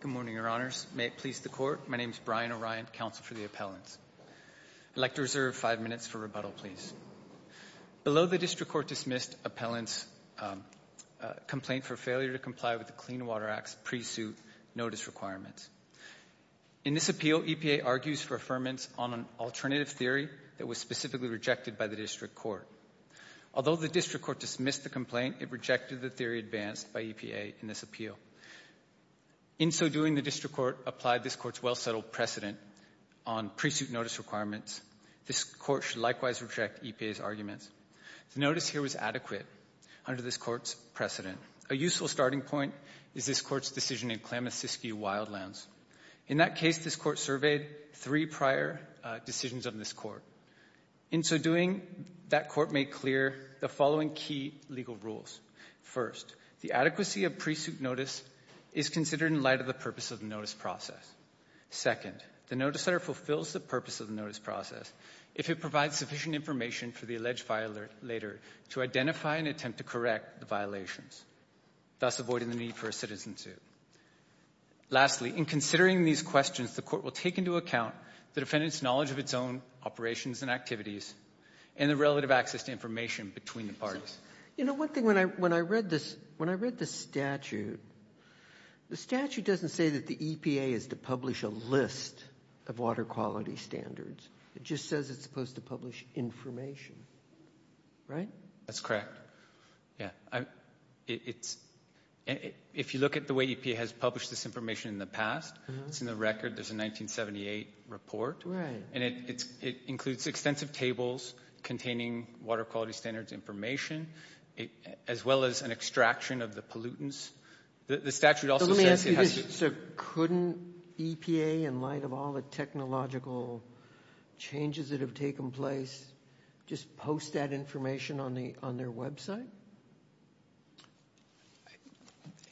Good morning, your honors. May it please the court, my name is Brian O'Ryan, counsel for the appellants. I'd like to reserve 5 minutes for rebuttal, please. Below the district court dismissed appellant's complaint for failure to comply with the Clean Water Act's pre-suit notice requirements. In this appeal, EPA argues for affirmance on an alternative theory that was specifically rejected by the district court. Although the district court dismissed the complaint, it rejected the theory advanced by EPA in this appeal. In so doing, the district court applied this court's well settled precedent on pre-suit notice requirements. This court should likewise reject EPA's arguments. The notice here was adequate under this court's precedent. A useful starting point is this court's decision in Klamath-Siskiyou Wildlands. In that case, this court surveyed 3 prior decisions of this court. In so doing, that court made clear the following key legal rules. First, the adequacy of pre-suit notice is considered in light of the purpose of the notice process. Second, the notice letter fulfills the purpose of the notice process if it provides sufficient information for the alleged violator to identify and attempt to correct the violations, thus avoiding the need for a citizen suit. Lastly, in considering these questions, the court will take into account the defendant's knowledge of its own operations and activities and the relative access to information between the parties. You know, one thing, when I read this statute, the statute doesn't say that the EPA is to publish a list of water quality standards. It just says it's supposed to publish information, right? That's correct, yeah. It's, if you look at the way EPA has published this information in the past, it's in the record. There's a 1978 report. Right. And it includes extensive tables containing water quality standards information, as well as an extraction of the pollutants. The statute also says it has to... So couldn't EPA, in light of all the technological changes that have taken place, just post that information on their website?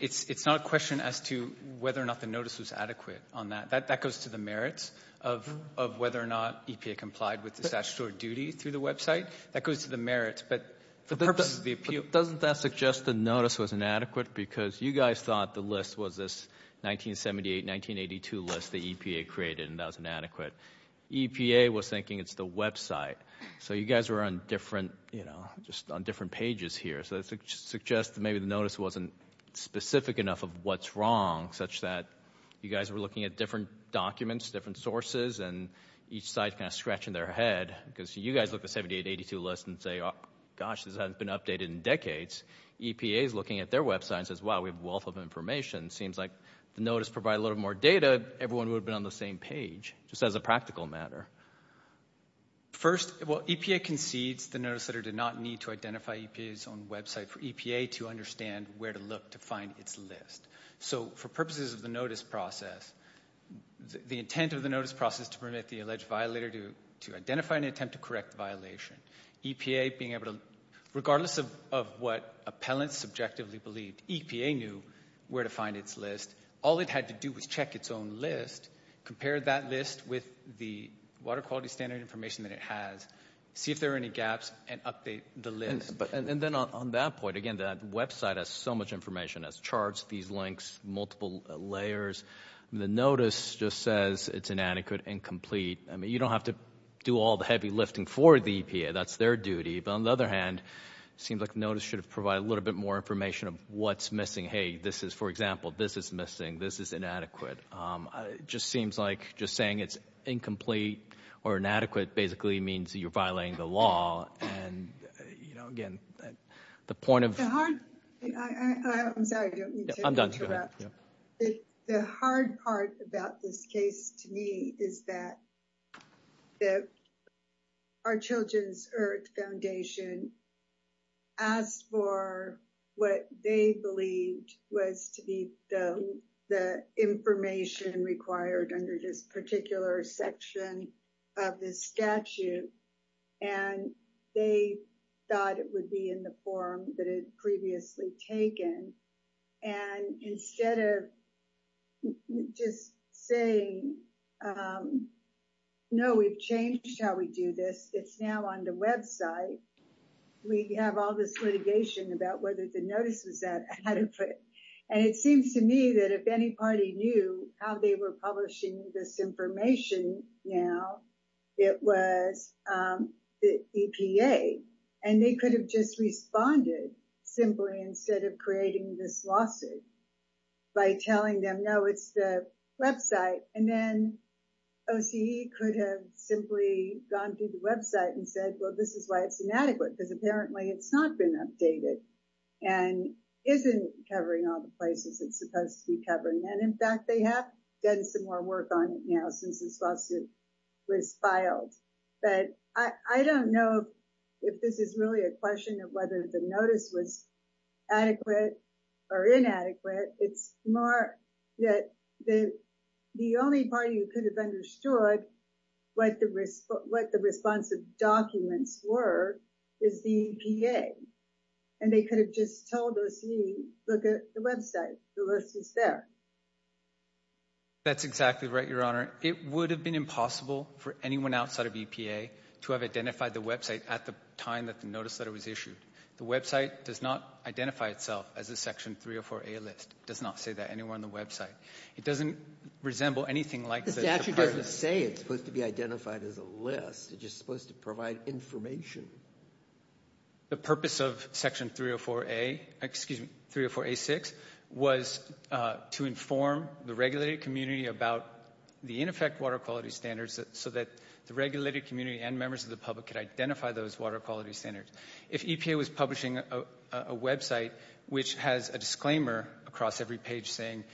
It's not a question as to whether or not the notice was adequate on that. That goes to the merits of whether or not EPA complied with the statutory duty through the website. That goes to the merits, but for purposes of the appeal... Doesn't that suggest the notice was inadequate because you guys thought the list was this 1978, 1982 list that EPA created, and that was inadequate. EPA was thinking it's the website. So you guys were on different, you know, just on different pages here. So that suggests that maybe the notice wasn't specific enough of what's wrong, such that you guys were looking at different documents, different sources, and each side's kind of scratching their head because you guys look at the 1978, 1982 list and say, gosh, this hasn't been updated in decades. EPA's looking at their website and says, wow, we have a wealth of information. It seems like the notice provided a little more data, everyone would have been on the same page, just as a practical matter. First, well, EPA concedes the notice letter did not need to identify EPA's own website for EPA to understand where to look to find its list. So for purposes of the notice process, the intent of the notice process to permit the alleged violator to identify and attempt to correct the violation, EPA being able to, regardless of what appellants subjectively believed, EPA knew where to find its list. All it had to do was check its own list, compare that list with the water quality standard information that it has, see if there were any gaps, and update the list. And then on that point, again, that website has so much information. It has charts, these links, multiple layers. The notice just says it's inadequate, incomplete. I mean, you don't have to do all the heavy lifting for the EPA, that's their duty. But on the other hand, it seems like the notice should have provided a little bit more information of what's missing. Hey, this is, for example, this is missing, this is inadequate. It just seems like just saying it's incomplete or inadequate basically means that you're violating the law. And again, the point of- I'm sorry, I don't mean to interrupt. I'm done, go ahead. The hard part about this case to me is that our Children's Earth Foundation asked for what they believed was to be the information required under this particular section of the statute. And they thought it would be in the form that it had previously taken. And instead of just saying, no, we've changed how we do this, it's now on the website. We have all this litigation about whether the notice was that adequate. And it seems to me that if any party knew how they were publishing this information now, it was the EPA. And they could have just responded simply instead of creating this lawsuit by telling them, no, it's the website. And then OCE could have simply gone through the website and said, well, this is why it's inadequate because apparently it's not been updated and isn't covering all the places it's supposed to be covering. And in fact, they have done some more work on it now since this lawsuit was filed. But I don't know if this is really a question of whether the notice was adequate or inadequate. It's more that the only party who could have understood what the responsive documents were is the EPA. And they could have just told OCE, look at the website. The list is there. That's exactly right, Your Honor. It would have been impossible for anyone outside of EPA to have identified the website at the time that the notice letter was issued. The website does not identify itself as a Section 304A list. It does not say that anywhere on the website. It doesn't resemble anything like- The statute doesn't say it's supposed to be identified as a list. It's just supposed to provide information. The purpose of Section 304A, excuse me, 304A6 was to inform the regulated community about the ineffect water quality standards so that the regulated community and members of the public could identify those water quality standards. If EPA was publishing a website which has a disclaimer across every page saying,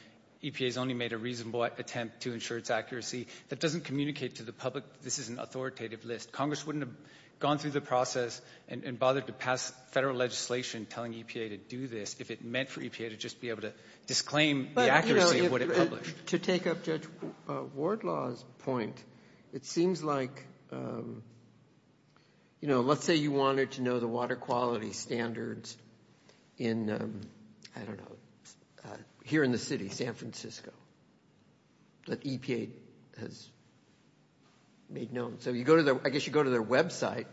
EPA's only made a reasonable attempt to ensure its accuracy, that doesn't communicate to the public this is an authoritative list. Congress wouldn't have gone through the process and bothered to pass federal legislation telling EPA to do this if it meant for EPA to just be able to disclaim the accuracy of what it published. To take up Judge Wardlaw's point, it seems like, you know, let's say you wanted to know the water quality standards in, I don't know, here in the city, San Francisco, that EPA has made known. So you go to their, I guess you go to their website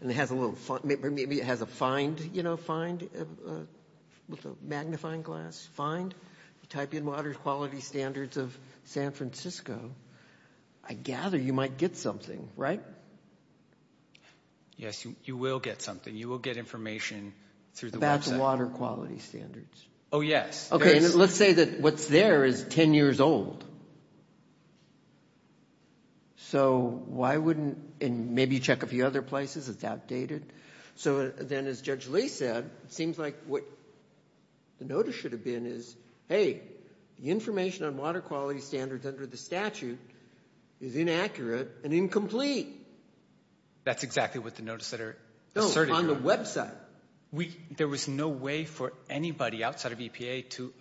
and it has a little, maybe it has a find, you know, find with a magnifying glass, find. You type in water quality standards of San Francisco, I gather you might get something, right? Yes, you will get something. You will get information through the website. About the water quality standards. Oh, yes. Okay, and let's say that what's there is 10 years old. So why wouldn't, and maybe you check a few other places, it's outdated. So then as Judge Lee said, it seems like what the notice should have been is, hey, the information on water quality standards under the statute is inaccurate and incomplete. That's exactly what the notice that are asserted. No, on the website. There was no way for anybody outside of EPA to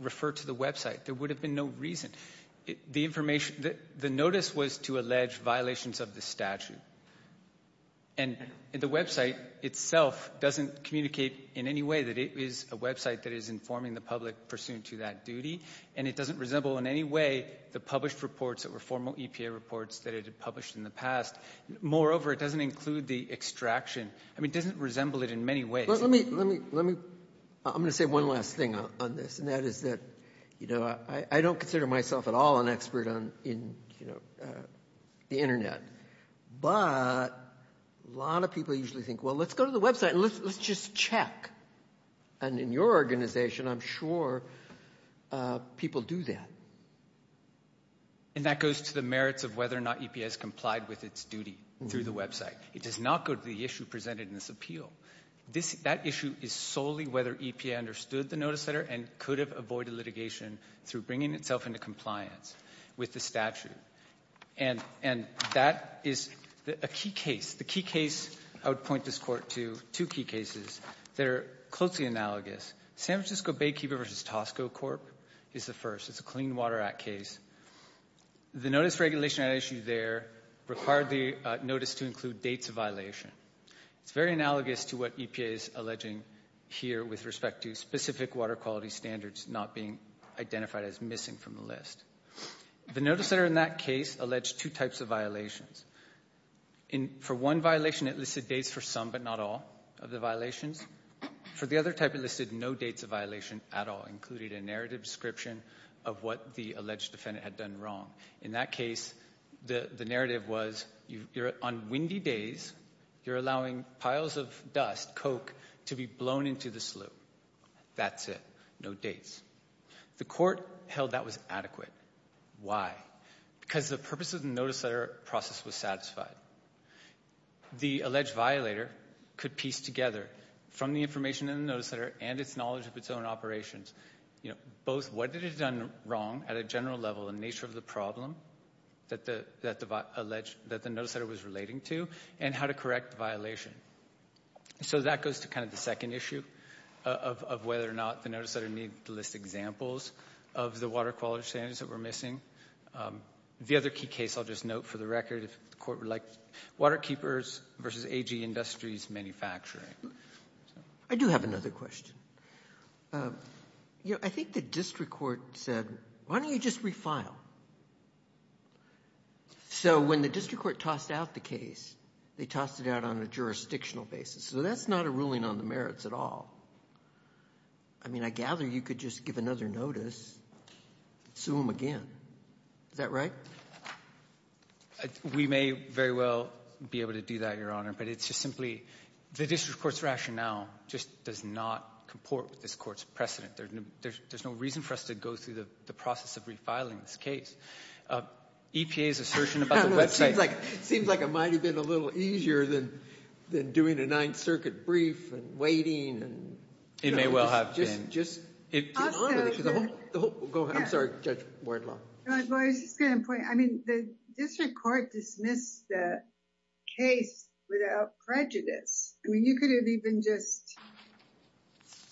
refer to the website. There would have been no reason. The information, the notice was to allege violations of the statute. And the website itself doesn't communicate in any way that it is a website that is informing the public pursuant to that duty. And it doesn't resemble in any way the published reports that were formal EPA reports that it had published in the past. Moreover, it doesn't include the extraction. I mean, it doesn't resemble it in many ways. Well, let me, I'm gonna say one last thing on this, and that is that I don't consider myself at all an expert on the internet. But a lot of people usually think, well, let's go to the website and let's just check. And in your organization, I'm sure people do that. And that goes to the merits of whether or not EPA has complied with its duty through the website. It does not go to the issue presented in this appeal. That issue is solely whether EPA understood the notice letter and could have avoided litigation through bringing itself into compliance with the statute. And that is a key case. The key case I would point this Court to, two key cases that are closely analogous. San Francisco Baykeeper versus Tosco Corp. is the first. It's a Clean Water Act case. The notice regulation I issued there required the notice to include dates of violation. It's very analogous to what EPA is alleging here with respect to specific water quality standards not being identified as missing from the list. The notice letter in that case alleged two types of violations. For one violation, it listed dates for some but not all of the violations. For the other type, it listed no dates of violation at all, including a narrative description of what the alleged defendant had done wrong. In that case, the narrative was, on windy days, you're allowing piles of dust, coke, to be blown into the sluice. That's it, no dates. The Court held that was adequate. Why? Because the purpose of the notice letter process was satisfied. The alleged violator could piece together from the information in the notice letter and its knowledge of its own operations, both what it had done wrong at a general level in nature of the problem that the notice letter was relating to and how to correct the violation. So that goes to kind of the second issue of whether or not the notice letter needed to list examples of the water quality standards that were missing. The other key case, I'll just note for the record, if the Court would like, Water Keepers v. AG Industries Manufacturing. I do have another question. I think the District Court said, why don't you just refile? So when the District Court tossed out the case, they tossed it out on a jurisdictional basis. So that's not a ruling on the merits at all. I mean, I gather you could just give another notice, sue them again. Is that right? Your Honor, we may very well be able to do that, Your Honor, but it's just simply, the District Court's rationale just does not comport with this Court's precedent. There's no reason for us to go through the process of refiling this case. EPA's assertion about the website. It seems like it might have been a little easier than doing a Ninth Circuit brief and waiting. It may well have been. Just to honor the issue, the whole, go ahead, I'm sorry, Judge Wardlaw. Well, I was just gonna point, I mean, the District Court dismissed the case without prejudice. I mean, you could have even just,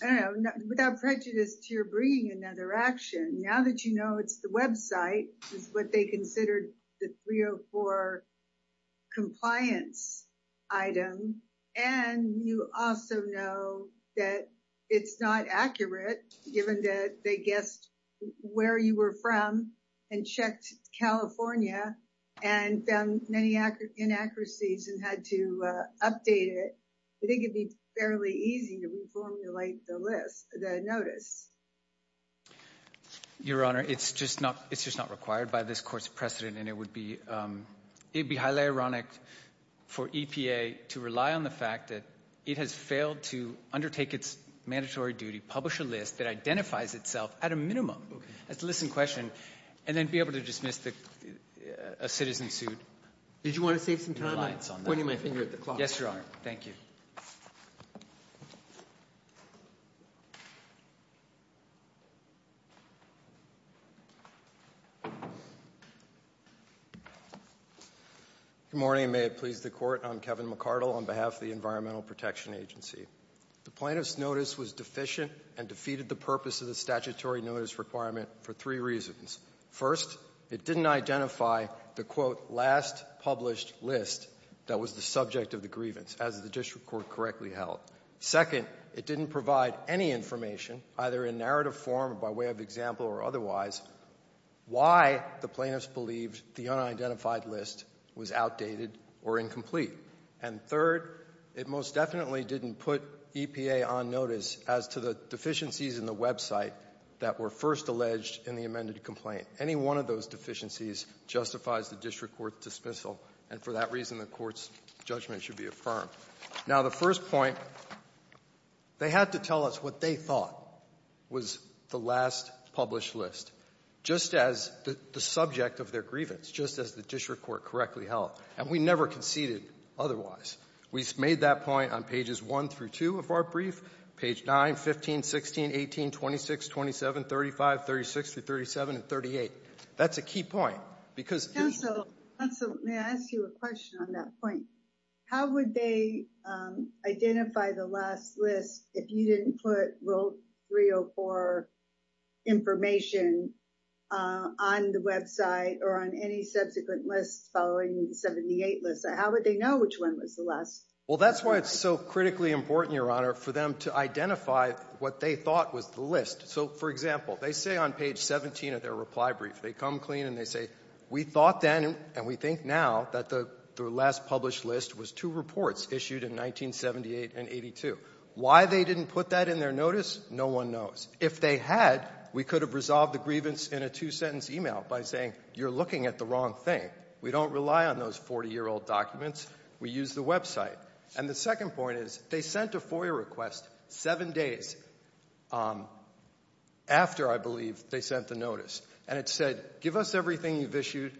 I don't know, without prejudice, you're bringing another action. Now that you know it's the website, is what they considered the 304 compliance item. And you also know that it's not accurate, given that they guessed where you were from and checked California and found many inaccuracies and had to update it. I think it'd be fairly easy to reformulate the list, the notice. Your Honor, it's just not required by this Court's precedent, and it would be, it'd be highly ironic for EPA to rely on the fact that it has failed to undertake its mandatory duty, publish a list that identifies itself at a minimum, that's a listen question, and then be able to dismiss a citizen sued. Did you want to save some time? I'm pointing my finger at the clock. Yes, Your Honor. Thank you. Good morning. May it please the Court. I'm Kevin McCardle on behalf of the Environmental Protection Agency. The plaintiff's notice was deficient and defeated the purpose of the statutory notice requirement for three reasons. First, it didn't identify the, quote, last published list that was the subject of the grievance, as the district court correctly held. Second, it didn't provide any information, either in narrative form, by way of example or otherwise, why the plaintiff's believed the unidentified list was outdated or incomplete. And third, it most definitely didn't put EPA on notice as to the deficiencies in the website that were first alleged in the amended complaint. Any one of those deficiencies justifies the district court's dismissal, and for that reason, the court's judgment should be affirmed. Now, the first point, they had to tell us what they thought was the last published list, just as the subject of their grievance, just as the district court correctly held. And we never conceded otherwise. We made that point on pages one through two of our brief, page nine, 15, 16, 18, 26, 27, 35, 36 through 37, and 38. That's a key point, because- Counsel, may I ask you a question on that point? How would they identify the last list if you didn't put Rule 304 information on the website or on any subsequent lists following the 78 list? How would they know which one was the last? Well, that's why it's so critically important, Your Honor, for them to identify what they thought was the list. So, for example, they say on page 17 of their reply brief, they come clean and they say, we thought then, and we think now, that the last published list was two reports issued in 1978 and 82. Why they didn't put that in their notice, no one knows. If they had, we could have resolved the grievance in a two-sentence email by saying, you're looking at the wrong thing. We don't rely on those 40-year-old documents. We use the website. And the second point is, they sent a FOIA request seven days after, I believe, they sent the notice. And it said, give us everything you've issued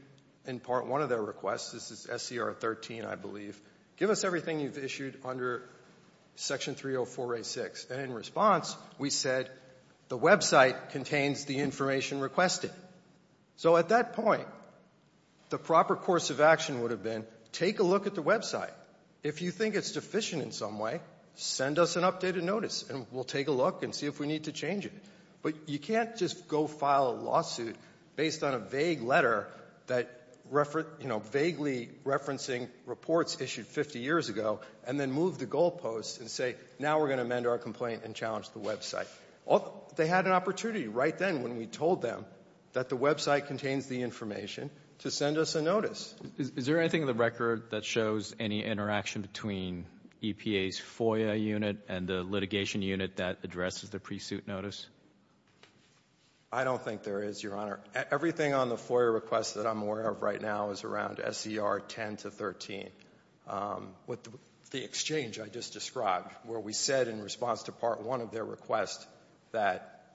in part one of their request. This is SCR 13, I believe. Give us everything you've issued under Section 304A6. And in response, we said, the website contains the information requested. So at that point, the proper course of action would have been, take a look at the website. If you think it's deficient in some way, send us an updated notice and we'll take a look and see if we need to change it. But you can't just go file a lawsuit based on a vague letter that, you know, vaguely referencing reports issued 50 years ago and then move the goalposts and say, now we're gonna amend our complaint and challenge the website. They had an opportunity right then when we told them that the website contains the information to send us a notice. Is there anything in the record that shows any interaction between EPA's FOIA unit and the litigation unit that addresses the pre-suit notice? I don't think there is, Your Honor. Everything on the FOIA request that I'm aware of right now is around SCR 10 to 13. With the exchange I just described, where we said in response to part one of their request that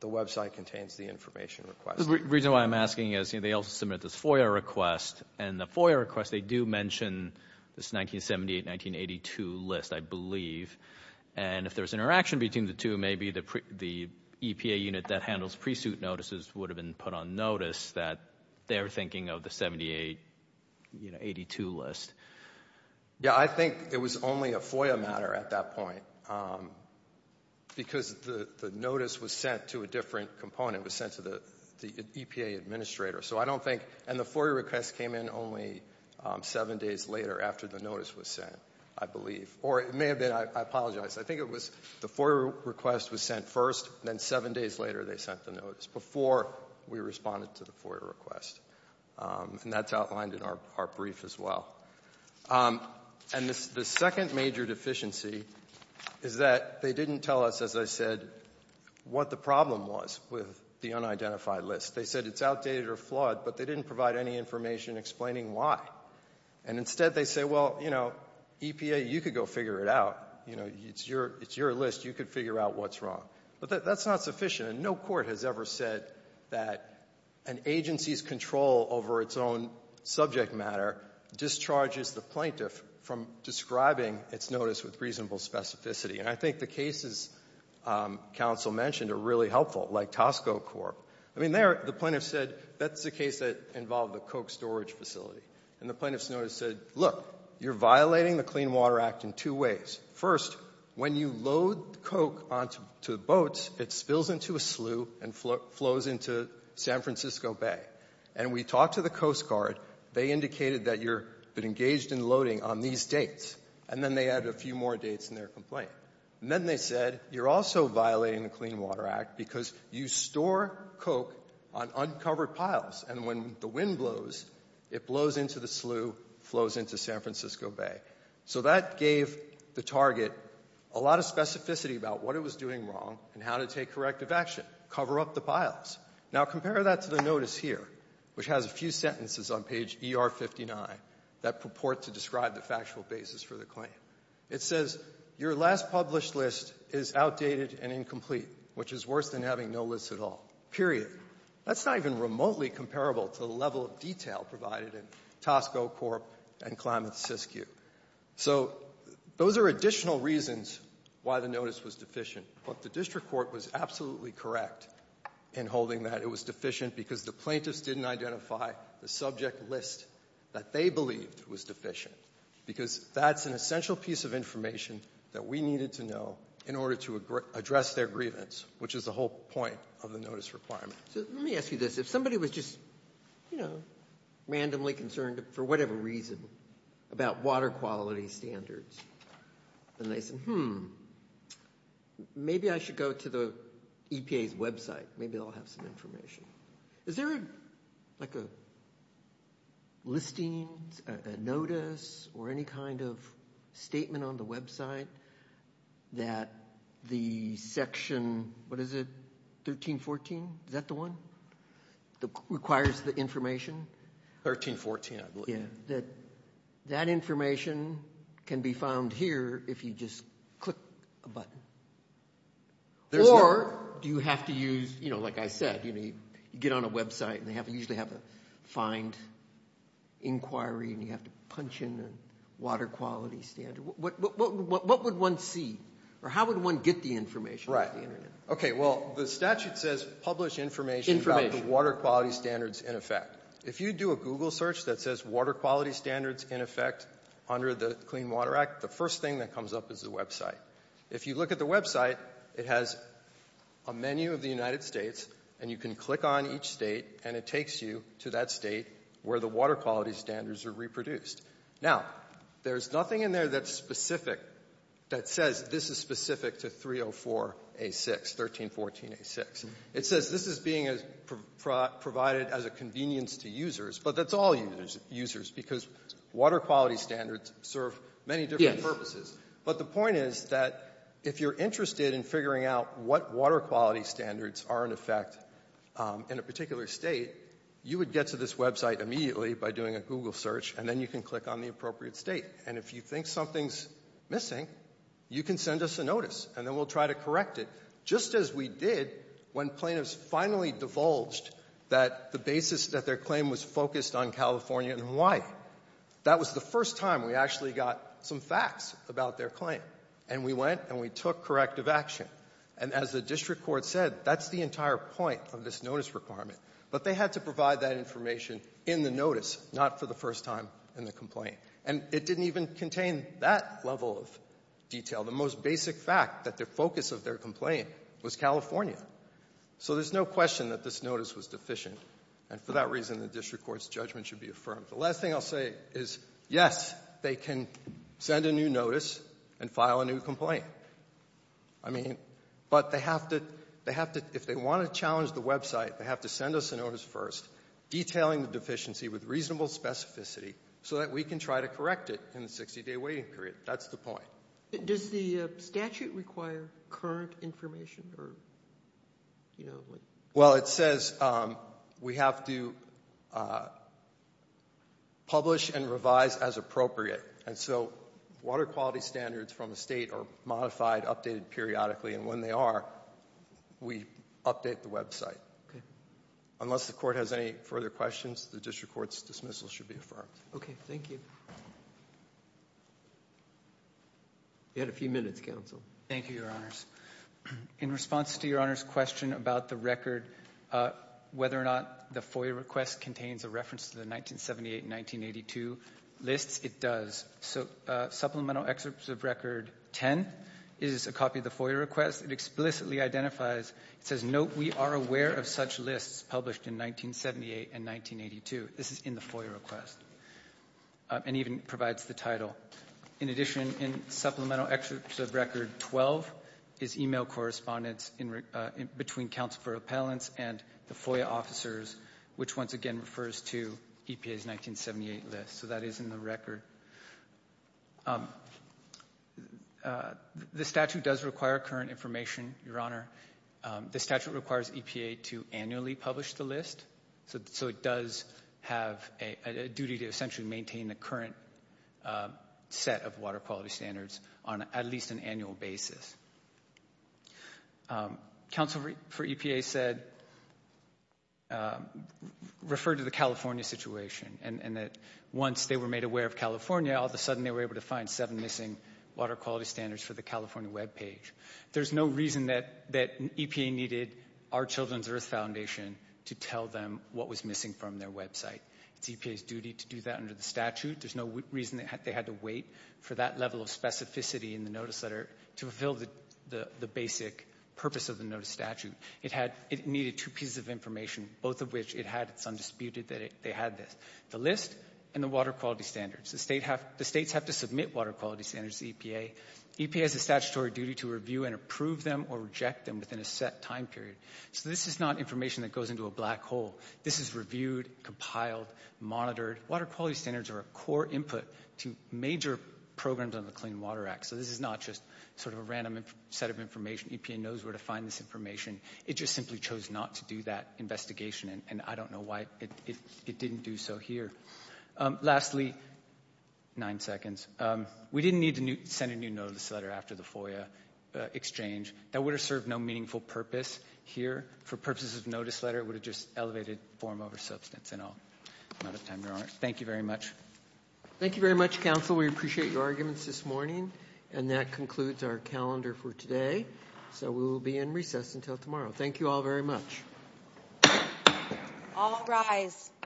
the website contains the information requested. The reason why I'm asking is, they also submitted this FOIA request and the FOIA request, they do mention this 1978, 1982 list, I believe. And if there's interaction between the two, maybe the EPA unit that handles pre-suit notices would have been put on notice that they're thinking of the 78, you know, 82 list. Yeah, I think it was only a FOIA matter at that point because the notice was sent to a different component. It was sent to the EPA administrator. So I don't think, and the FOIA request came in only seven days later after the notice was sent, I believe. Or it may have been, I apologize. I think it was the FOIA request was sent first, then seven days later they sent the notice before we responded to the FOIA request. And that's outlined in our brief as well. And the second major deficiency is that they didn't tell us, as I said, what the problem was with the unidentified list. They said it's outdated or flawed, but they didn't provide any information explaining why. And instead they say, well, you know, EPA, you could go figure it out. You know, it's your list. You could figure out what's wrong. But that's not sufficient, and no court has ever said that an agency's control over its own subject matter discharges the plaintiff from describing its notice with reasonable specificity. And I think the cases counsel mentioned are really helpful, like Tosco Corp. I mean, there the plaintiff said, that's the case that involved the Coke storage facility. And the plaintiff's notice said, look, you're violating the Clean Water Act in two ways. First, when you load Coke onto boats, it spills into a slough and flows into San Francisco Bay. And we talked to the Coast Guard. They indicated that you've been engaged in loading on these dates. And then they added a few more dates in their complaint. And then they said, you're also violating the Clean Water Act because you store Coke on uncovered piles, and when the wind blows, it blows into the slough, flows into San Francisco Bay. So that gave the target a lot of specificity about what it was doing wrong and how to take corrective action, cover up the piles. Now, compare that to the notice here, which has a few sentences on page ER-59 that purport to describe the factual basis for the claim. It says, your last published list is outdated and incomplete, which is worse than having no list at all, period. That's not even remotely comparable to the level of detail provided in Tosco Corp. and Klamath-Siskiyou. So those are additional reasons why the notice was deficient. But the district court was absolutely correct in holding that it was deficient because the plaintiffs didn't identify the subject list that they believed was deficient, because that's an essential piece of information that we needed to know in order to address their grievance, which is the whole point of the notice requirement. So let me ask you this. If somebody was just, you know, randomly concerned for whatever reason about water quality standards, and they said, hmm, maybe I should go to the EPA's website. Maybe they'll have some information. Is there like a listing, a notice, or any kind of statement on the website that the section, what is it, 1314? Is that the one that requires the information? 1314, I believe. Yeah, that information can be found here if you just click a button. Or do you have to use, you know, like I said, you get on a website and they usually have a find inquiry and you have to punch in a water quality standard. What would one see? Or how would one get the information? Right, okay, well, the statute says publish information about the water quality standards in effect. If you do a Google search that says water quality standards in effect under the Clean Water Act, the first thing that comes up is the website. If you look at the website, it has a menu of the United States and you can click on each state and it takes you to that state where the water quality standards are reproduced. Now, there's nothing in there that's specific that says this is specific to 304A6, 1314A6. It says this is being provided as a convenience to users, but that's all users because water quality standards serve many different purposes. But the point is that if you're interested in figuring out what water quality standards are in effect in a particular state, you would get to this website immediately by doing a Google search and then you can click on the appropriate state. And if you think something's missing, you can send us a notice and then we'll try to correct it just as we did when plaintiffs finally divulged that the basis that their claim was focused on California and Hawaii. That was the first time we actually got some facts about their claim. And we went and we took corrective action. And as the district court said, that's the entire point of this notice requirement. But they had to provide that information in the notice, not for the first time in the complaint. And it didn't even contain that level of detail. The most basic fact that the focus of their complaint was California. So there's no question that this notice was deficient. And for that reason, the district court's judgment should be affirmed. The last thing I'll say is, yes, they can send a new notice and file a new complaint. I mean, but they have to, if they want to challenge the website, they have to send us a notice first, detailing the deficiency with reasonable specificity so that we can try to correct it in the 60 day waiting period. That's the point. Does the statute require current information or? Well, it says we have to publish and revise as appropriate. And so water quality standards from the state are modified, updated periodically. And when they are, we update the website. Unless the court has any further questions, the district court's dismissal should be affirmed. Okay, thank you. You had a few minutes, counsel. Thank you, your honors. In response to your honor's question about the record, whether or not the FOIA request contains a reference to the 1978 and 1982 lists, it does. So supplemental excerpts of record 10 is a copy of the FOIA request. It explicitly identifies, it says, note we are aware of such lists published in 1978 and 1982. This is in the FOIA request. And even provides the title. In addition, in supplemental excerpts of record 12 is email correspondence between counsel for appellants and the FOIA officers, which once again refers to EPA's 1978 list. So that is in the record. The statute does require current information, your honor. The statute requires EPA to annually publish the list. So it does have a duty to essentially maintain a current set of water quality standards on at least an annual basis. Counsel for EPA said, referred to the California situation. And that once they were made aware of California, all of a sudden they were able to find seven missing water quality standards for the California webpage. There's no reason that EPA needed our Children's Earth Foundation to tell them what was missing from their website. It's EPA's duty to do that under the statute. There's no reason they had to wait for that level of specificity in the notice letter to fulfill the basic purpose of the notice statute. It needed two pieces of information, both of which it had, it's undisputed that they had this. The list and the water quality standards. The states have to submit water quality standards to EPA. EPA has a statutory duty to review and approve them or reject them within a set time period. So this is not information that goes into a black hole. This is reviewed, compiled, monitored. Water quality standards are a core input to major programs on the Clean Water Act. So this is not just sort of a random set of information. EPA knows where to find this information. It just simply chose not to do that investigation. And I don't know why it didn't do so here. Lastly, nine seconds. We didn't need to send a new notice letter after the FOIA exchange. That would have served no meaningful purpose here. For purposes of notice letter, it would have just elevated form over substance. And I'll run out of time, Your Honor. Thank you very much. Thank you very much, counsel. We appreciate your arguments this morning. And that concludes our calendar for today. So we will be in recess until tomorrow. Thank you all very much. All rise.